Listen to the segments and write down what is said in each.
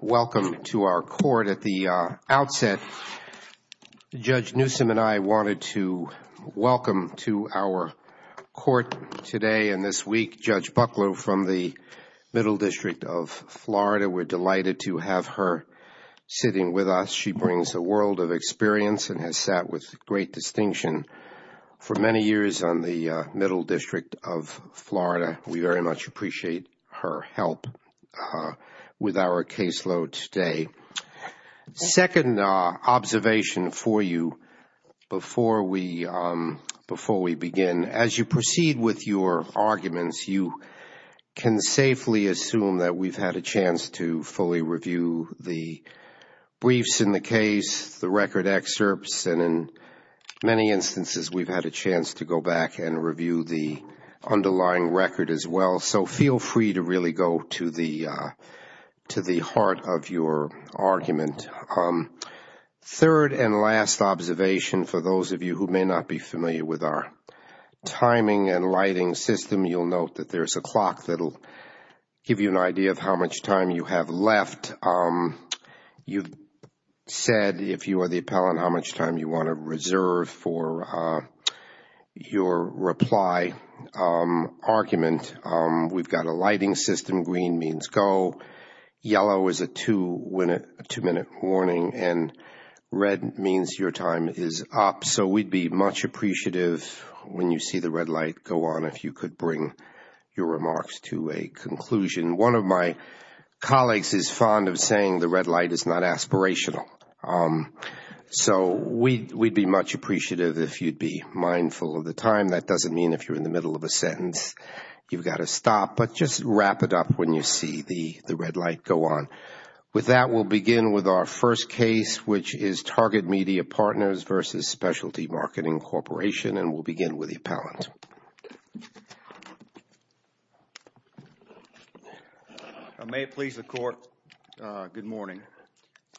Welcome to our court. At the outset, Judge Newsom and I wanted to welcome to our court today and this week Judge Buckler from the Middle District of Florida. We're delighted to have her sitting with us. She brings a world of experience and has sat with the court for many years. Great distinction. For many years on the Middle District of Florida, we very much appreciate her help with our caseload today. Second observation for you before we begin. As you proceed with your arguments, you can safely assume that we've had a chance to fully review the briefs in the case, the record excerpts, and in many instances we've had a chance to go back and review the underlying record as well. So feel free to really go to the heart of your argument. Third and last observation for those of you who may not be familiar with our timing and lighting system, you'll note that there's a clock that will give you an idea of how much time you have left. You've said, if you are the appellant, how much time you want to reserve for your reply argument. We've got a lighting system. Green means go. Yellow is a two-minute warning and red means your time is up. So we'd be much appreciative when you see the red light go on if you could bring your remarks to a conclusion. One of my colleagues is fond of saying the red light is not aspirational. So we'd be much appreciative if you'd be mindful of the time. That doesn't mean if you're in the middle of a sentence you've got to stop, but just wrap it up when you see the red light go on. With that, we'll begin with our first case, which is Target Media Partners v. Specialty Marketing Corporation, and we'll begin with the appellant.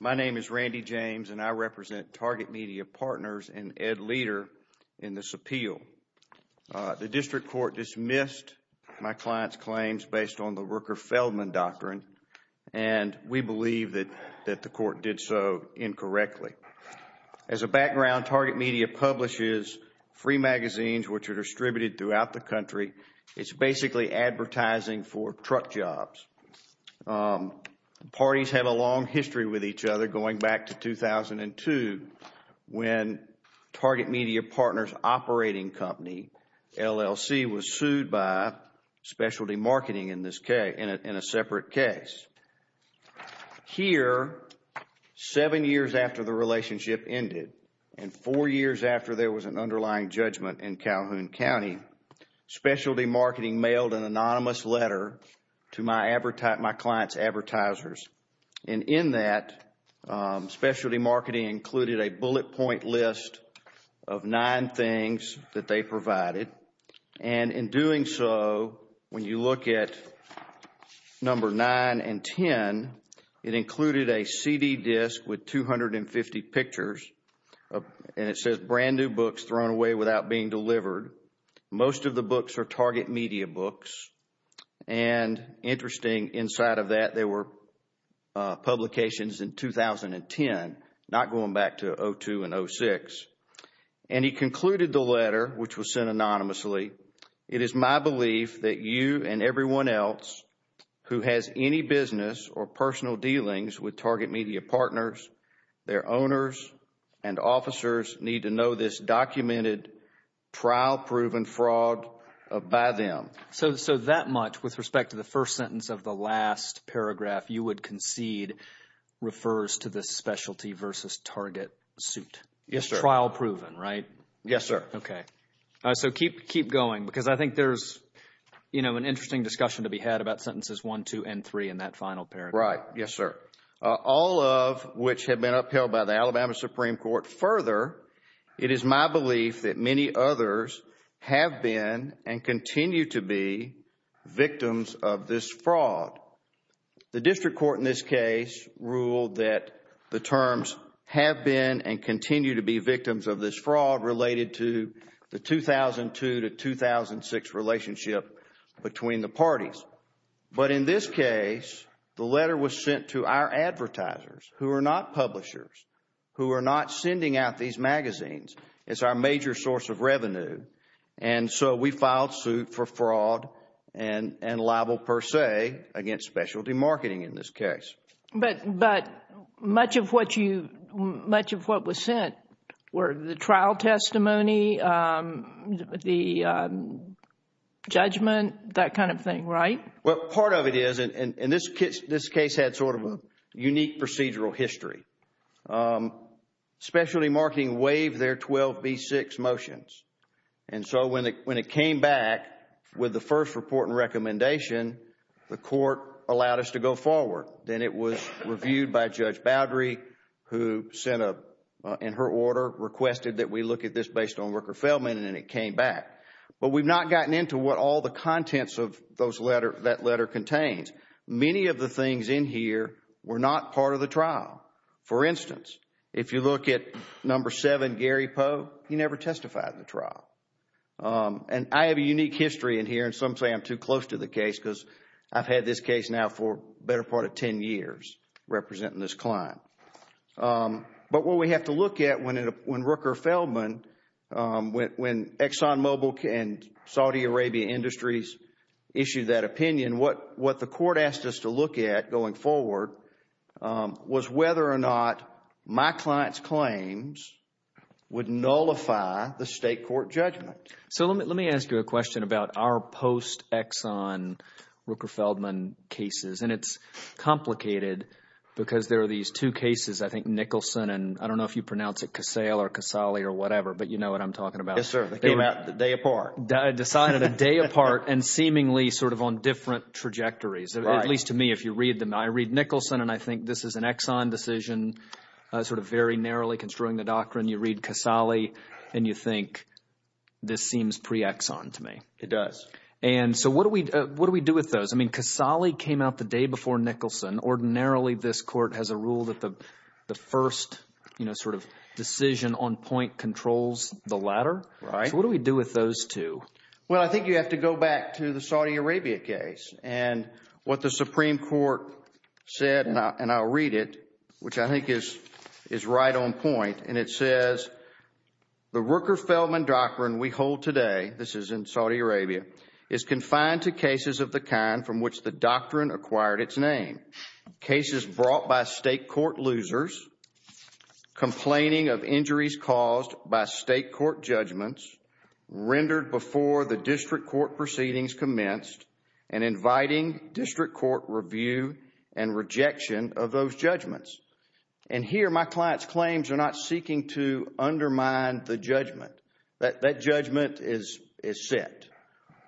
My name is Randy James, and I represent Target Media Partners and Ed Leder in this appeal. The district court dismissed my client's claims based on the Rooker-Feldman doctrine, and we believe that the court did so incorrectly. As a background, Target Media publishes free magazines which are distributed throughout the country. It's basically advertising for truck jobs. Parties have a long history with each other going back to 2002 when Target Media Partners operating company, LLC, was sued by specialty marketing in a separate case. Here, seven years after the relationship ended and four years after there was an underlying judgment in Calhoun County, specialty marketing mailed an anonymous letter to my client's advertisers. In that, specialty marketing included a bullet point list of nine things that they provided. In doing so, when you look at number nine and ten, it included a CD disc with 250 pictures, and it says brand new books thrown away without being delivered. Most of the books are Target Media books, and interesting, inside of that there were publications in 2010, not going back to 2002 and 2006. And he concluded the letter, which was sent anonymously, it is my belief that you and everyone else who has any business or personal dealings with Target Media Partners, their owners and officers need to know this documented trial proven fraud by them. So that much with respect to the first sentence of the last paragraph you would concede refers to the specialty versus Target suit? Yes, sir. Trial proven, right? Yes, sir. Okay. So keep going because I think there's an interesting discussion to be had about sentences one, two, and three in that final paragraph. Right. Yes, sir. All of which have been upheld by the Alabama Supreme Court. Further, it is my belief that many others have been and continue to be victims of this fraud. The district court in this case ruled that the terms have been and continue to be victims of this fraud related to the 2002 to 2006 relationship between the parties. But in this case, the letter was sent to our advertisers who are not publishers, who are not sending out these magazines. It's our major source of revenue. And so we filed suit for fraud and libel per se against specialty marketing in this case. But much of what was sent were the trial testimony, the judgment, that kind of thing, right? Well, part of it is, and this case had sort of a unique procedural history. Specialty marketing waived their 12B6 motions. And so when it came back with the first report and recommendation, the court allowed us to go forward. Then it was reviewed by Judge Boudry who sent a, in her order, requested that we look at this based on Rooker-Feldman and it came back. But we've not gotten into what all the contents of that letter contains. Many of the things in here were not part of the trial. For instance, if you look at number 7, Gary Poe, he never testified in the trial. And I have a unique history in here and some say I'm too close to the case because I've had this case now for the better part of 10 years representing this client. But what we have to look at when Rooker-Feldman, when ExxonMobil and Saudi Arabia Industries issued that opinion, and what the court asked us to look at going forward was whether or not my client's claims would nullify the state court judgment. So let me ask you a question about our post-Exxon Rooker-Feldman cases. And it's complicated because there are these two cases, I think Nicholson and I don't know if you pronounce it Casale or Casale or whatever, but you know what I'm talking about. Yes, sir. They came out the day apart. Decided a day apart and seemingly sort of on different trajectories, at least to me if you read them. I read Nicholson, and I think this is an Exxon decision sort of very narrowly construing the doctrine. You read Casale, and you think this seems pre-Exxon to me. It does. And so what do we do with those? I mean Casale came out the day before Nicholson. Ordinarily, this court has a rule that the first sort of decision on point controls the latter. So what do we do with those two? Well, I think you have to go back to the Saudi Arabia case. And what the Supreme Court said, and I'll read it, which I think is right on point. And it says, The Rooker-Feldman doctrine we hold today, this is in Saudi Arabia, is confined to cases of the kind from which the doctrine acquired its name. Cases brought by state court losers, complaining of injuries caused by state court judgments, rendered before the district court proceedings commenced, and inviting district court review and rejection of those judgments. And here my client's claims are not seeking to undermine the judgment. That judgment is set.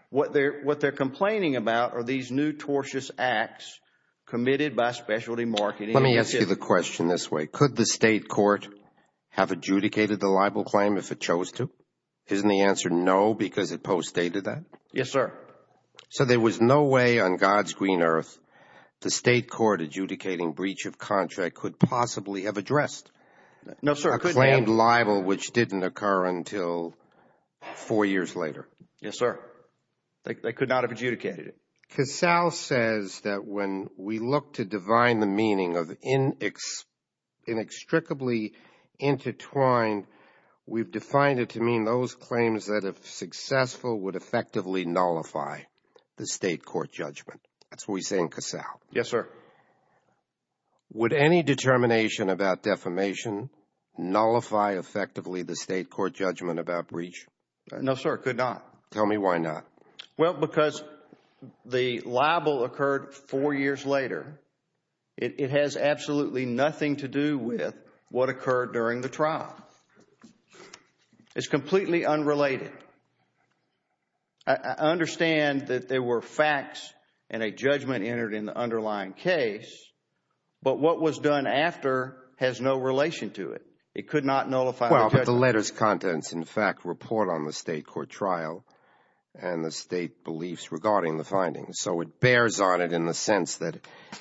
What they're complaining about are these new tortious acts committed by specialty marketing. Let me ask you the question this way. Could the state court have adjudicated the libel claim if it chose to? Isn't the answer no because it post-stated that? Yes, sir. So there was no way on God's green earth the state court adjudicating breach of contract could possibly have addressed a claimed libel, which didn't occur until four years later. Yes, sir. They could not have adjudicated it. Because Sal says that when we look to divine the meaning of inextricably intertwined, we've defined it to mean those claims that, if successful, would effectively nullify the state court judgment. That's what we say in Cassau. Yes, sir. Would any determination about defamation nullify effectively the state court judgment about breach? No, sir, it could not. Tell me why not. Well, because the libel occurred four years later. It has absolutely nothing to do with what occurred during the trial. It's completely unrelated. I understand that there were facts and a judgment entered in the underlying case, but what was done after has no relation to it. It could not nullify the judgment. Well, but the letters contents, in fact, report on the state court trial and the state beliefs regarding the findings. So it bears on it in the sense that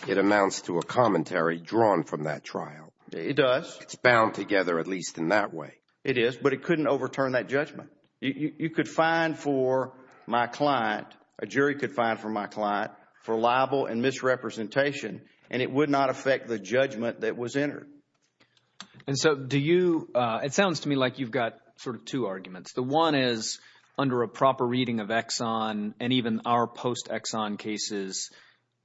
it amounts to a commentary drawn from that trial. It does. It's bound together at least in that way. It is, but it couldn't overturn that judgment. You could fine for my client, a jury could fine for my client, for libel and misrepresentation, and it would not affect the judgment that was entered. And so do you – it sounds to me like you've got sort of two arguments. The one is under a proper reading of Exxon and even our post-Exxon cases,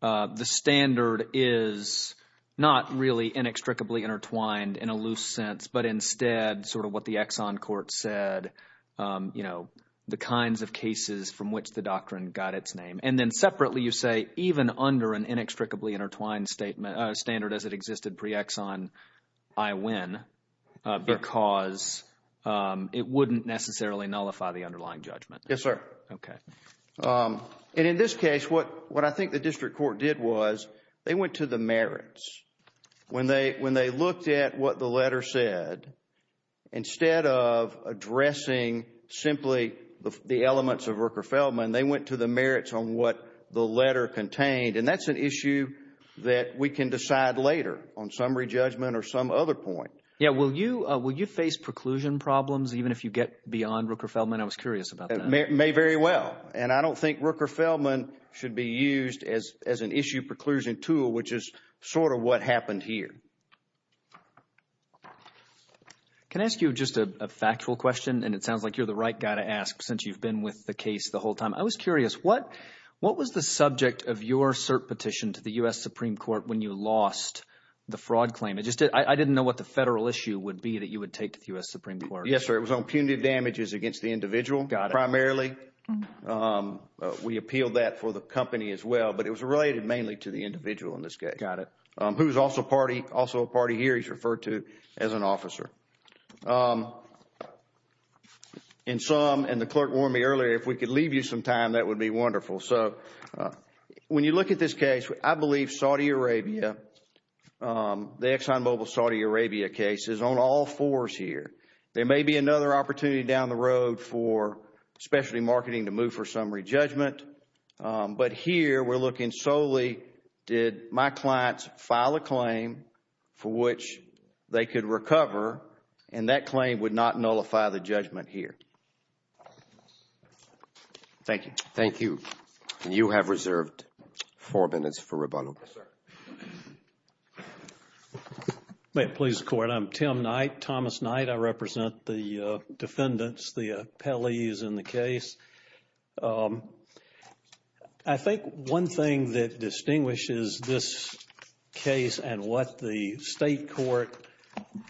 the standard is not really inextricably intertwined in a loose sense, but instead sort of what the Exxon court said, you know, the kinds of cases from which the doctrine got its name. And then separately you say even under an inextricably intertwined standard as it existed pre-Exxon, I win because it wouldn't necessarily nullify the underlying judgment. Yes, sir. Okay. And in this case, what I think the district court did was they went to the merits. When they looked at what the letter said, instead of addressing simply the elements of Rooker-Feldman, they went to the merits on what the letter contained, and that's an issue that we can decide later on summary judgment or some other point. Yeah, will you face preclusion problems even if you get beyond Rooker-Feldman? I was curious about that. May very well, and I don't think Rooker-Feldman should be used as an issue preclusion tool, which is sort of what happened here. Can I ask you just a factual question? And it sounds like you're the right guy to ask since you've been with the case the whole time. I was curious, what was the subject of your cert petition to the U.S. Supreme Court when you lost the fraud claim? I didn't know what the federal issue would be that you would take to the U.S. Supreme Court. Yes, sir. It was on punitive damages against the individual primarily. We appealed that for the company as well, but it was related mainly to the individual in this case. Got it. Who is also a party here. He's referred to as an officer. And the clerk warned me earlier, if we could leave you some time, that would be wonderful. When you look at this case, I believe Saudi Arabia, the ExxonMobil Saudi Arabia case is on all fours here. There may be another opportunity down the road for specialty marketing to move for summary judgment, but here we're looking solely did my clients file a claim for which they could recover, and that claim would not nullify the judgment here. Thank you. Thank you. You have reserved four minutes for rebuttal. Yes, sir. May it please the Court. I'm Tim Knight, Thomas Knight. I represent the defendants, the appellees in the case. I think one thing that distinguishes this case and what the state court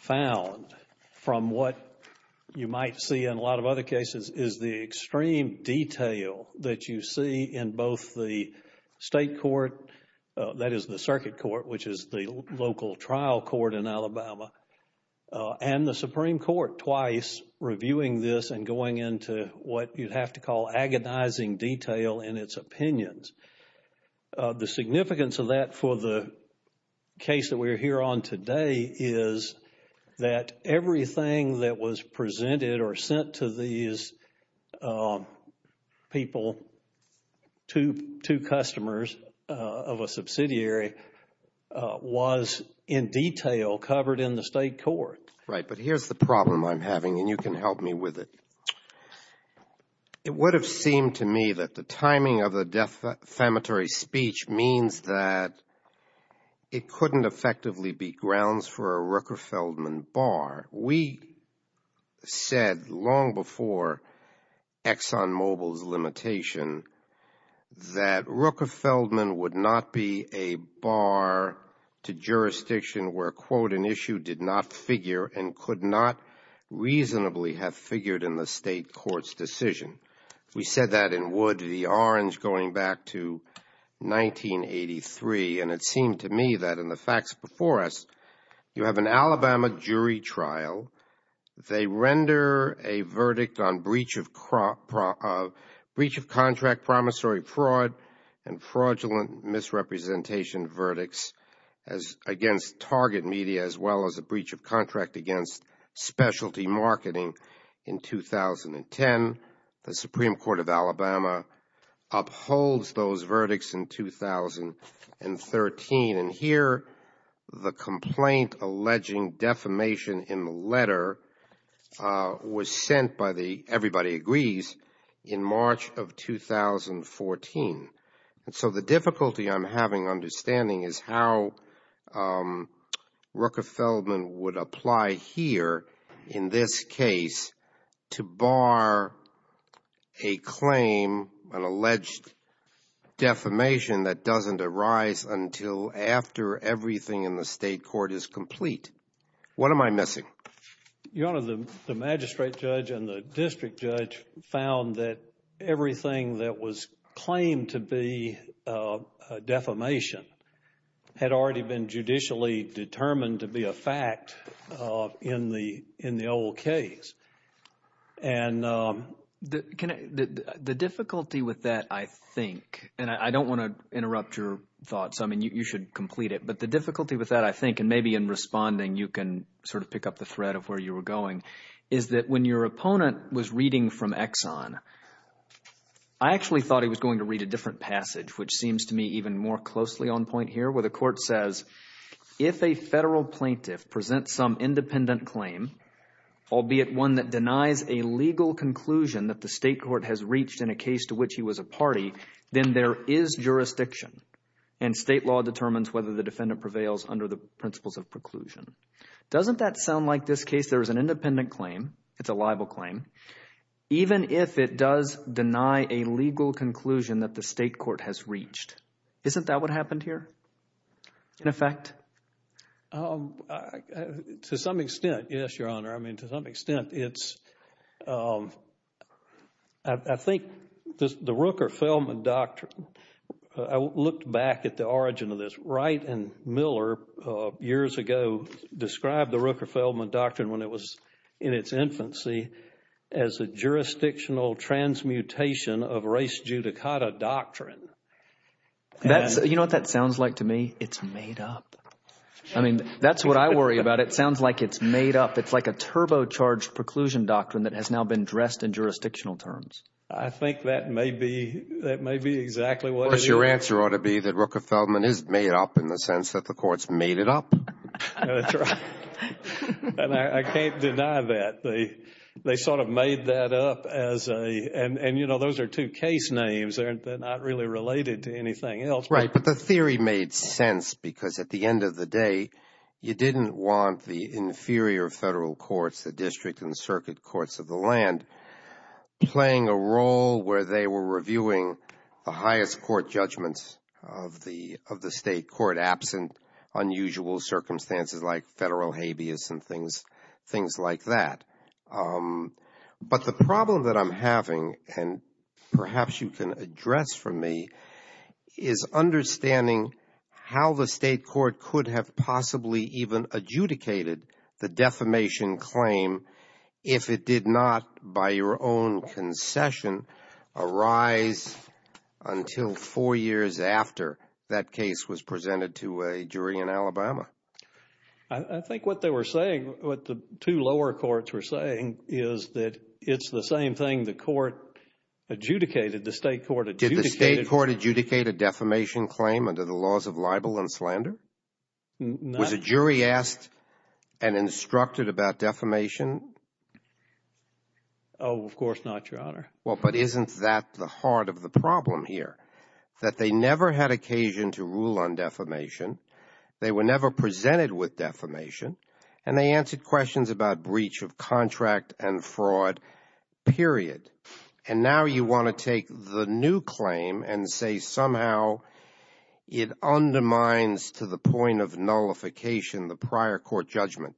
found from what you might see in a lot of other cases is the extreme detail that you see in both the state court, that is the circuit court, which is the local trial court in Alabama, and the Supreme Court twice reviewing this and going into what you'd have to call agonizing detail in its opinions. The significance of that for the case that we're here on today is that everything that was presented or sent to these people, to customers of a subsidiary, was in detail covered in the state court. Right, but here's the problem I'm having, and you can help me with it. It would have seemed to me that the timing of the defamatory speech means that it couldn't effectively be grounds for a Ruckerfeldman bar. We said long before ExxonMobil's limitation that Ruckerfeldman would not be a bar to jurisdiction where, quote, an issue did not figure and could not reasonably have figured in the state court's decision. We said that in Wood v. Orange going back to 1983, and it seemed to me that in the facts before us, you have an Alabama jury trial. They render a verdict on breach of contract, promissory fraud, and fraudulent misrepresentation verdicts against target media as well as a breach of contract against specialty marketing in 2010. The Supreme Court of Alabama upholds those verdicts in 2013, and here the complaint alleging defamation in the letter was sent by the, everybody agrees, in March of 2014. And so the difficulty I'm having understanding is how Ruckerfeldman would apply here in this case to bar a claim, an alleged defamation that doesn't arise until after everything in the state court is complete. What am I missing? Your Honor, the magistrate judge and the district judge found that everything that was claimed to be defamation had already been judicially determined to be a fact in the old case. The difficulty with that, I think, and I don't want to interrupt your thoughts. I mean, you should complete it. But the difficulty with that, I think, and maybe in responding you can sort of pick up the thread of where you were going, is that when your opponent was reading from Exxon, I actually thought he was going to read a different passage, which seems to me even more closely on point here, where the court says, if a federal plaintiff presents some independent claim, albeit one that denies a legal conclusion that the state court has reached in a case to which he was a party, then there is jurisdiction, and state law determines whether the defendant prevails under the principles of preclusion. Doesn't that sound like this case, there is an independent claim, it's a libel claim, even if it does deny a legal conclusion that the state court has reached? Isn't that what happened here, in effect? To some extent, yes, Your Honor. I mean, to some extent, I think the Rooker-Feldman Doctrine, I looked back at the origin of this. Wright and Miller, years ago, described the Rooker-Feldman Doctrine when it was in its infancy as a jurisdictional transmutation of race judicata doctrine. You know what that sounds like to me? It's made up. I mean, that's what I worry about. It sounds like it's made up. It's like a turbocharged preclusion doctrine that has now been dressed in jurisdictional terms. I think that may be exactly what it is. Of course, your answer ought to be that Rooker-Feldman is made up in the sense that the courts made it up. That's right, and I can't deny that. They sort of made that up as a, and you know, those are two case names. They're not really related to anything else. Right, but the theory made sense because at the end of the day, you didn't want the inferior federal courts, the district and circuit courts of the land, playing a role where they were reviewing the highest court judgments of the state court absent unusual circumstances like federal habeas and things like that. But the problem that I'm having, and perhaps you can address for me, is understanding how the state court could have possibly even adjudicated the defamation claim if it did not, by your own concession, arise until four years after that case was presented to a jury in Alabama. I think what they were saying, what the two lower courts were saying, is that it's the same thing the court adjudicated, the state court adjudicated. Did the state court adjudicate a defamation claim under the laws of libel and slander? Was a jury asked and instructed about defamation? Oh, of course not, your Honor. Well, but isn't that the heart of the problem here, that they never had occasion to rule on defamation, they were never presented with defamation, and they answered questions about breach of contract and fraud, period. And now you want to take the new claim and say somehow it undermines to the point of nullification the prior court judgment.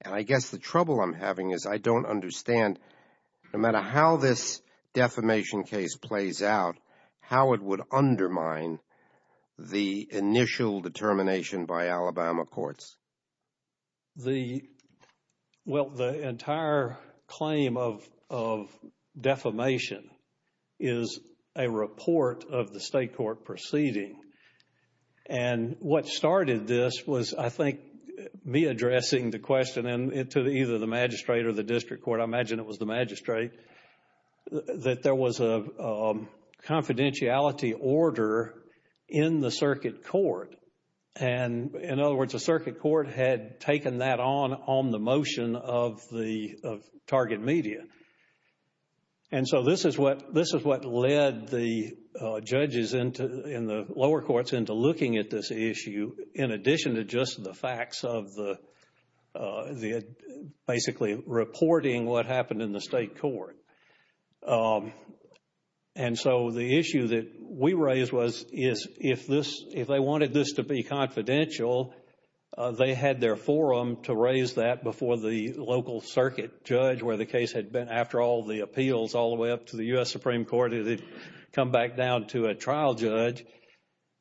And I guess the trouble I'm having is I don't understand, no matter how this defamation case plays out, how it would undermine the initial determination by Alabama courts. Well, the entire claim of defamation is a report of the state court proceeding. And what started this was, I think, me addressing the question to either the magistrate or the district court, I imagine it was the magistrate, that there was a confidentiality order in the circuit court. And, in other words, the circuit court had taken that on on the motion of the target media. And so this is what led the judges in the lower courts into looking at this issue, in addition to just the facts of basically reporting what happened in the state court. And so the issue that we raised was if they wanted this to be confidential, they had their forum to raise that before the local circuit judge, where the case had been, after all the appeals all the way up to the U.S. Supreme Court, it had come back down to a trial judge.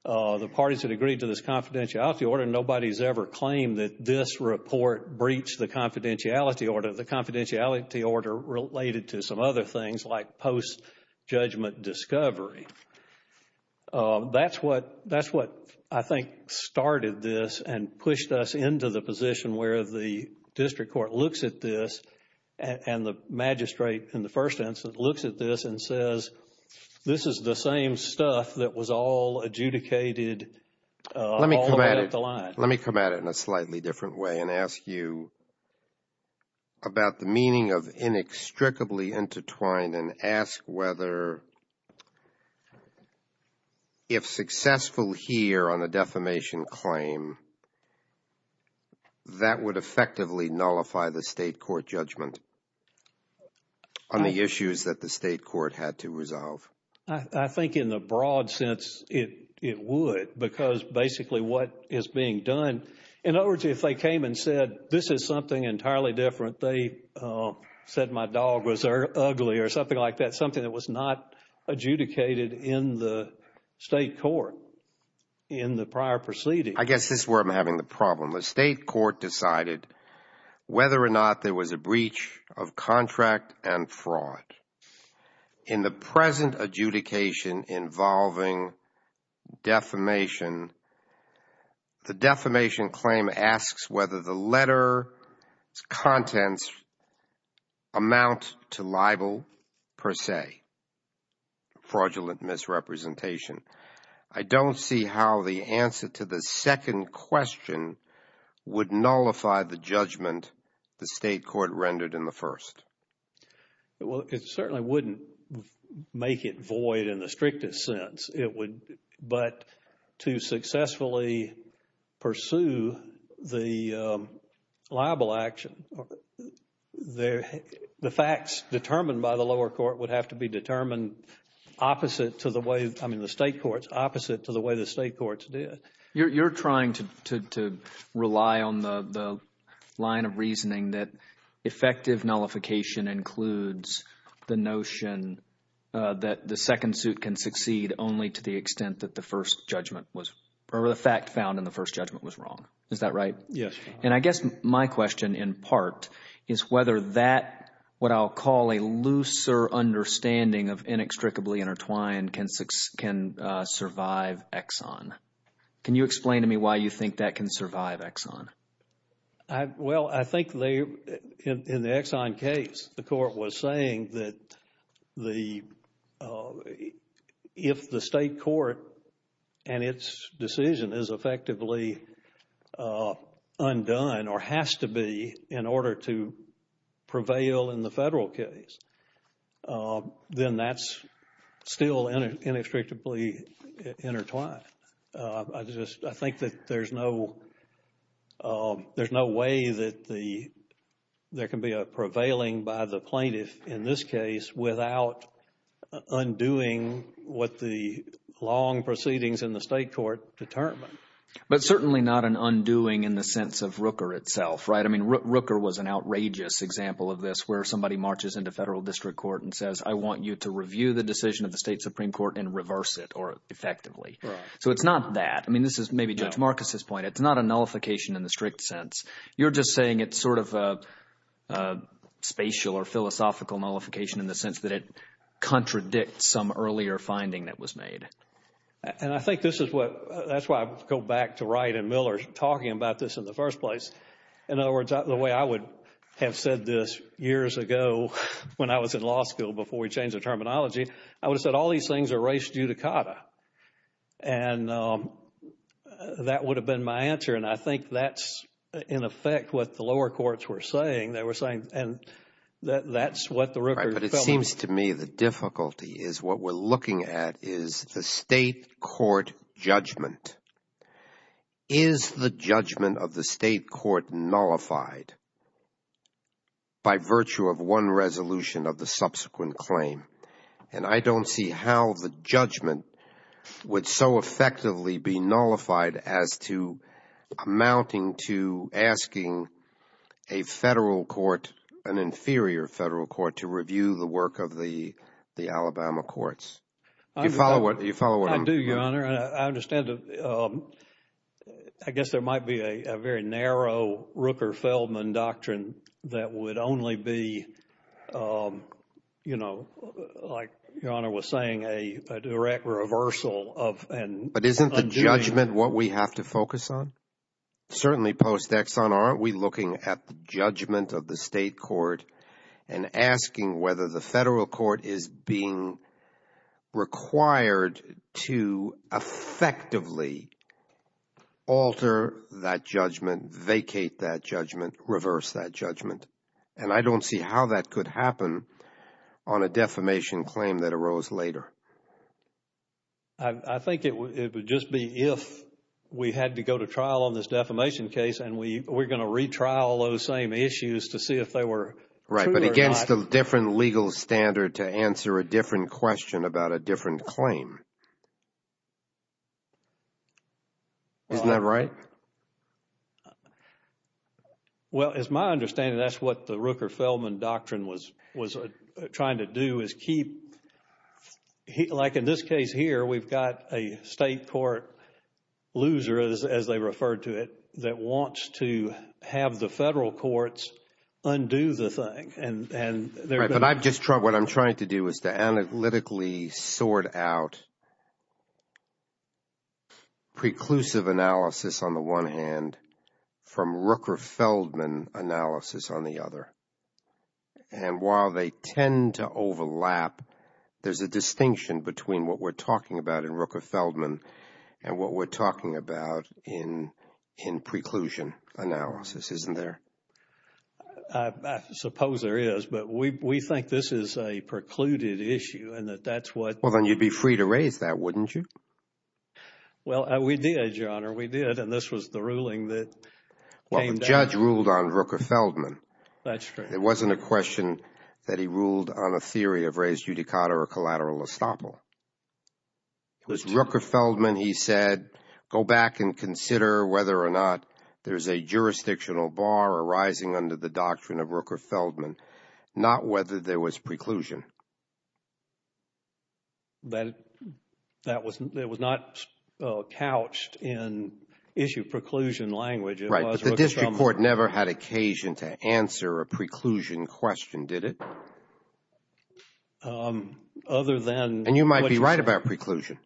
The parties had agreed to this confidentiality order. Nobody's ever claimed that this report breached the confidentiality order. The confidentiality order related to some other things like post-judgment discovery. That's what, I think, started this and pushed us into the position where the district court looks at this and the magistrate, in the first instance, looks at this and says, this is the same stuff that was all adjudicated all the way up the line. Let me come at it in a slightly different way and ask you about the meaning of inextricably intertwined and ask whether, if successful here on the defamation claim, that would effectively nullify the state court judgment on the issues that the state court had to resolve. I think in the broad sense it would because basically what is being done, in other words, if they came and said, this is something entirely different, but they said my dog was ugly or something like that, something that was not adjudicated in the state court in the prior proceedings. I guess this is where I'm having the problem. The state court decided whether or not there was a breach of contract and fraud. In the present adjudication involving defamation, the defamation claim asks whether the letter's contents amount to libel per se, fraudulent misrepresentation. I don't see how the answer to the second question would nullify the judgment the state court rendered in the first. Well, it certainly wouldn't make it void in the strictest sense. But to successfully pursue the libel action, the facts determined by the lower court would have to be determined opposite to the way, I mean the state courts, opposite to the way the state courts did. You're trying to rely on the line of reasoning that effective nullification includes the notion that the second suit can succeed only to the extent that the first judgment was, or the fact found in the first judgment was wrong. Is that right? Yes. And I guess my question in part is whether that, what I'll call a looser understanding of inextricably intertwined can survive Exxon. Can you explain to me why you think that can survive Exxon? Well, I think they, in the Exxon case, the court was saying that the, if the state court and its decision is effectively undone or has to be in order to prevail in the federal case, then that's still inextricably intertwined. I just, I think that there's no way that there can be a prevailing by the plaintiff in this case without undoing what the long proceedings in the state court determine. But certainly not an undoing in the sense of Rooker itself, right? I mean, Rooker was an outrageous example of this, where somebody marches into federal district court and says, I want you to review the decision of the state Supreme Court and reverse it effectively. Right. So it's not that. I mean, this is maybe Judge Marcus's point. It's not a nullification in the strict sense. You're just saying it's sort of a spatial or philosophical nullification in the sense that it contradicts some earlier finding that was made. And I think this is what, that's why I go back to Wright and Miller talking about this in the first place. In other words, the way I would have said this years ago when I was in law school before we changed the terminology, I would have said all these things are race judicata. And that would have been my answer. And I think that's, in effect, what the lower courts were saying. They were saying, and that's what the Rooker fell on. But it seems to me the difficulty is what we're looking at is the state court judgment. Is the judgment of the state court nullified by virtue of one resolution of the subsequent claim? And I don't see how the judgment would so effectively be nullified as to amounting to asking a federal court, an inferior federal court, to review the work of the Alabama courts. Do you follow what I'm saying? I do, Your Honor. I understand. I guess there might be a very narrow Rooker-Feldman doctrine that would only be, you know, like Your Honor was saying, a direct reversal of and undoing. But isn't the judgment what we have to focus on? Certainly post-Exxon aren't we looking at the judgment of the state court and asking whether the federal court is being required to effectively alter that judgment, vacate that judgment, reverse that judgment. And I don't see how that could happen on a defamation claim that arose later. I think it would just be if we had to go to trial on this defamation case and we're going to retrial those same issues to see if they were true or not. Right, but against a different legal standard to answer a different question about a different claim. Isn't that right? Well, as my understanding, that's what the Rooker-Feldman doctrine was trying to do is keep, like in this case here, we've got a state court loser, as they referred to it, that wants to have the federal courts undo the thing. Right, but what I'm trying to do is to analytically sort out preclusive analysis on the one hand from Rooker-Feldman analysis on the other. And while they tend to overlap, there's a distinction between what we're talking about in Rooker-Feldman and what we're talking about in preclusion analysis, isn't there? I suppose there is, but we think this is a precluded issue and that that's what... Well, then you'd be free to raise that, wouldn't you? Well, we did, Your Honor, we did, and this was the ruling that... The judge ruled on Rooker-Feldman. That's true. It wasn't a question that he ruled on a theory of res judicata or collateral estoppel. It was Rooker-Feldman, he said, go back and consider whether or not there's a jurisdictional bar arising under the doctrine of Rooker-Feldman, not whether there was preclusion. That was not couched in issue preclusion language. Right, but the district court never had occasion to answer a preclusion question, did it? Other than... And you might be right about preclusion,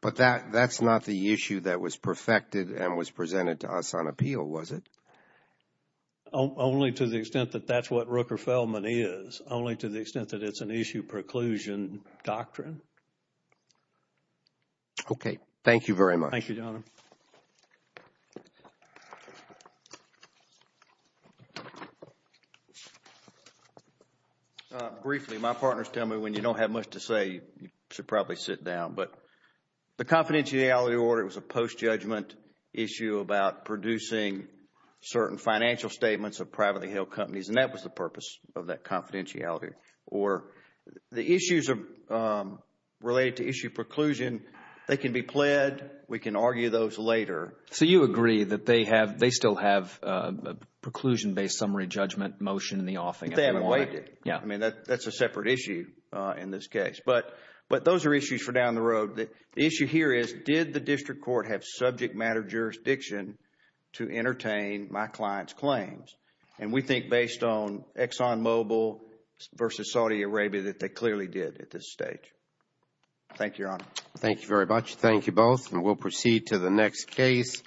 but that's not the issue that was perfected and was presented to us on appeal, was it? Only to the extent that that's what Rooker-Feldman is, only to the extent that it's an issue preclusion doctrine. Okay. Thank you very much. Thank you, Your Honor. Briefly, my partners tell me when you don't have much to say, you should probably sit down. But the confidentiality order was a post-judgment issue about producing certain financial statements of privately held companies, and that was the purpose of that confidentiality order. The issues related to issue preclusion, they can be pled, we can argue those later. So you agree that they still have a preclusion-based summary judgment motion in the offing? They haven't waived it. I mean, that's a separate issue in this case. But those are issues for down the road. The issue here is, did the district court have subject matter jurisdiction to entertain my client's claims? And we think based on ExxonMobil versus Saudi Arabia that they clearly did at this stage. Thank you, Your Honor. Thank you very much. Thank you both. And we'll proceed to the next case.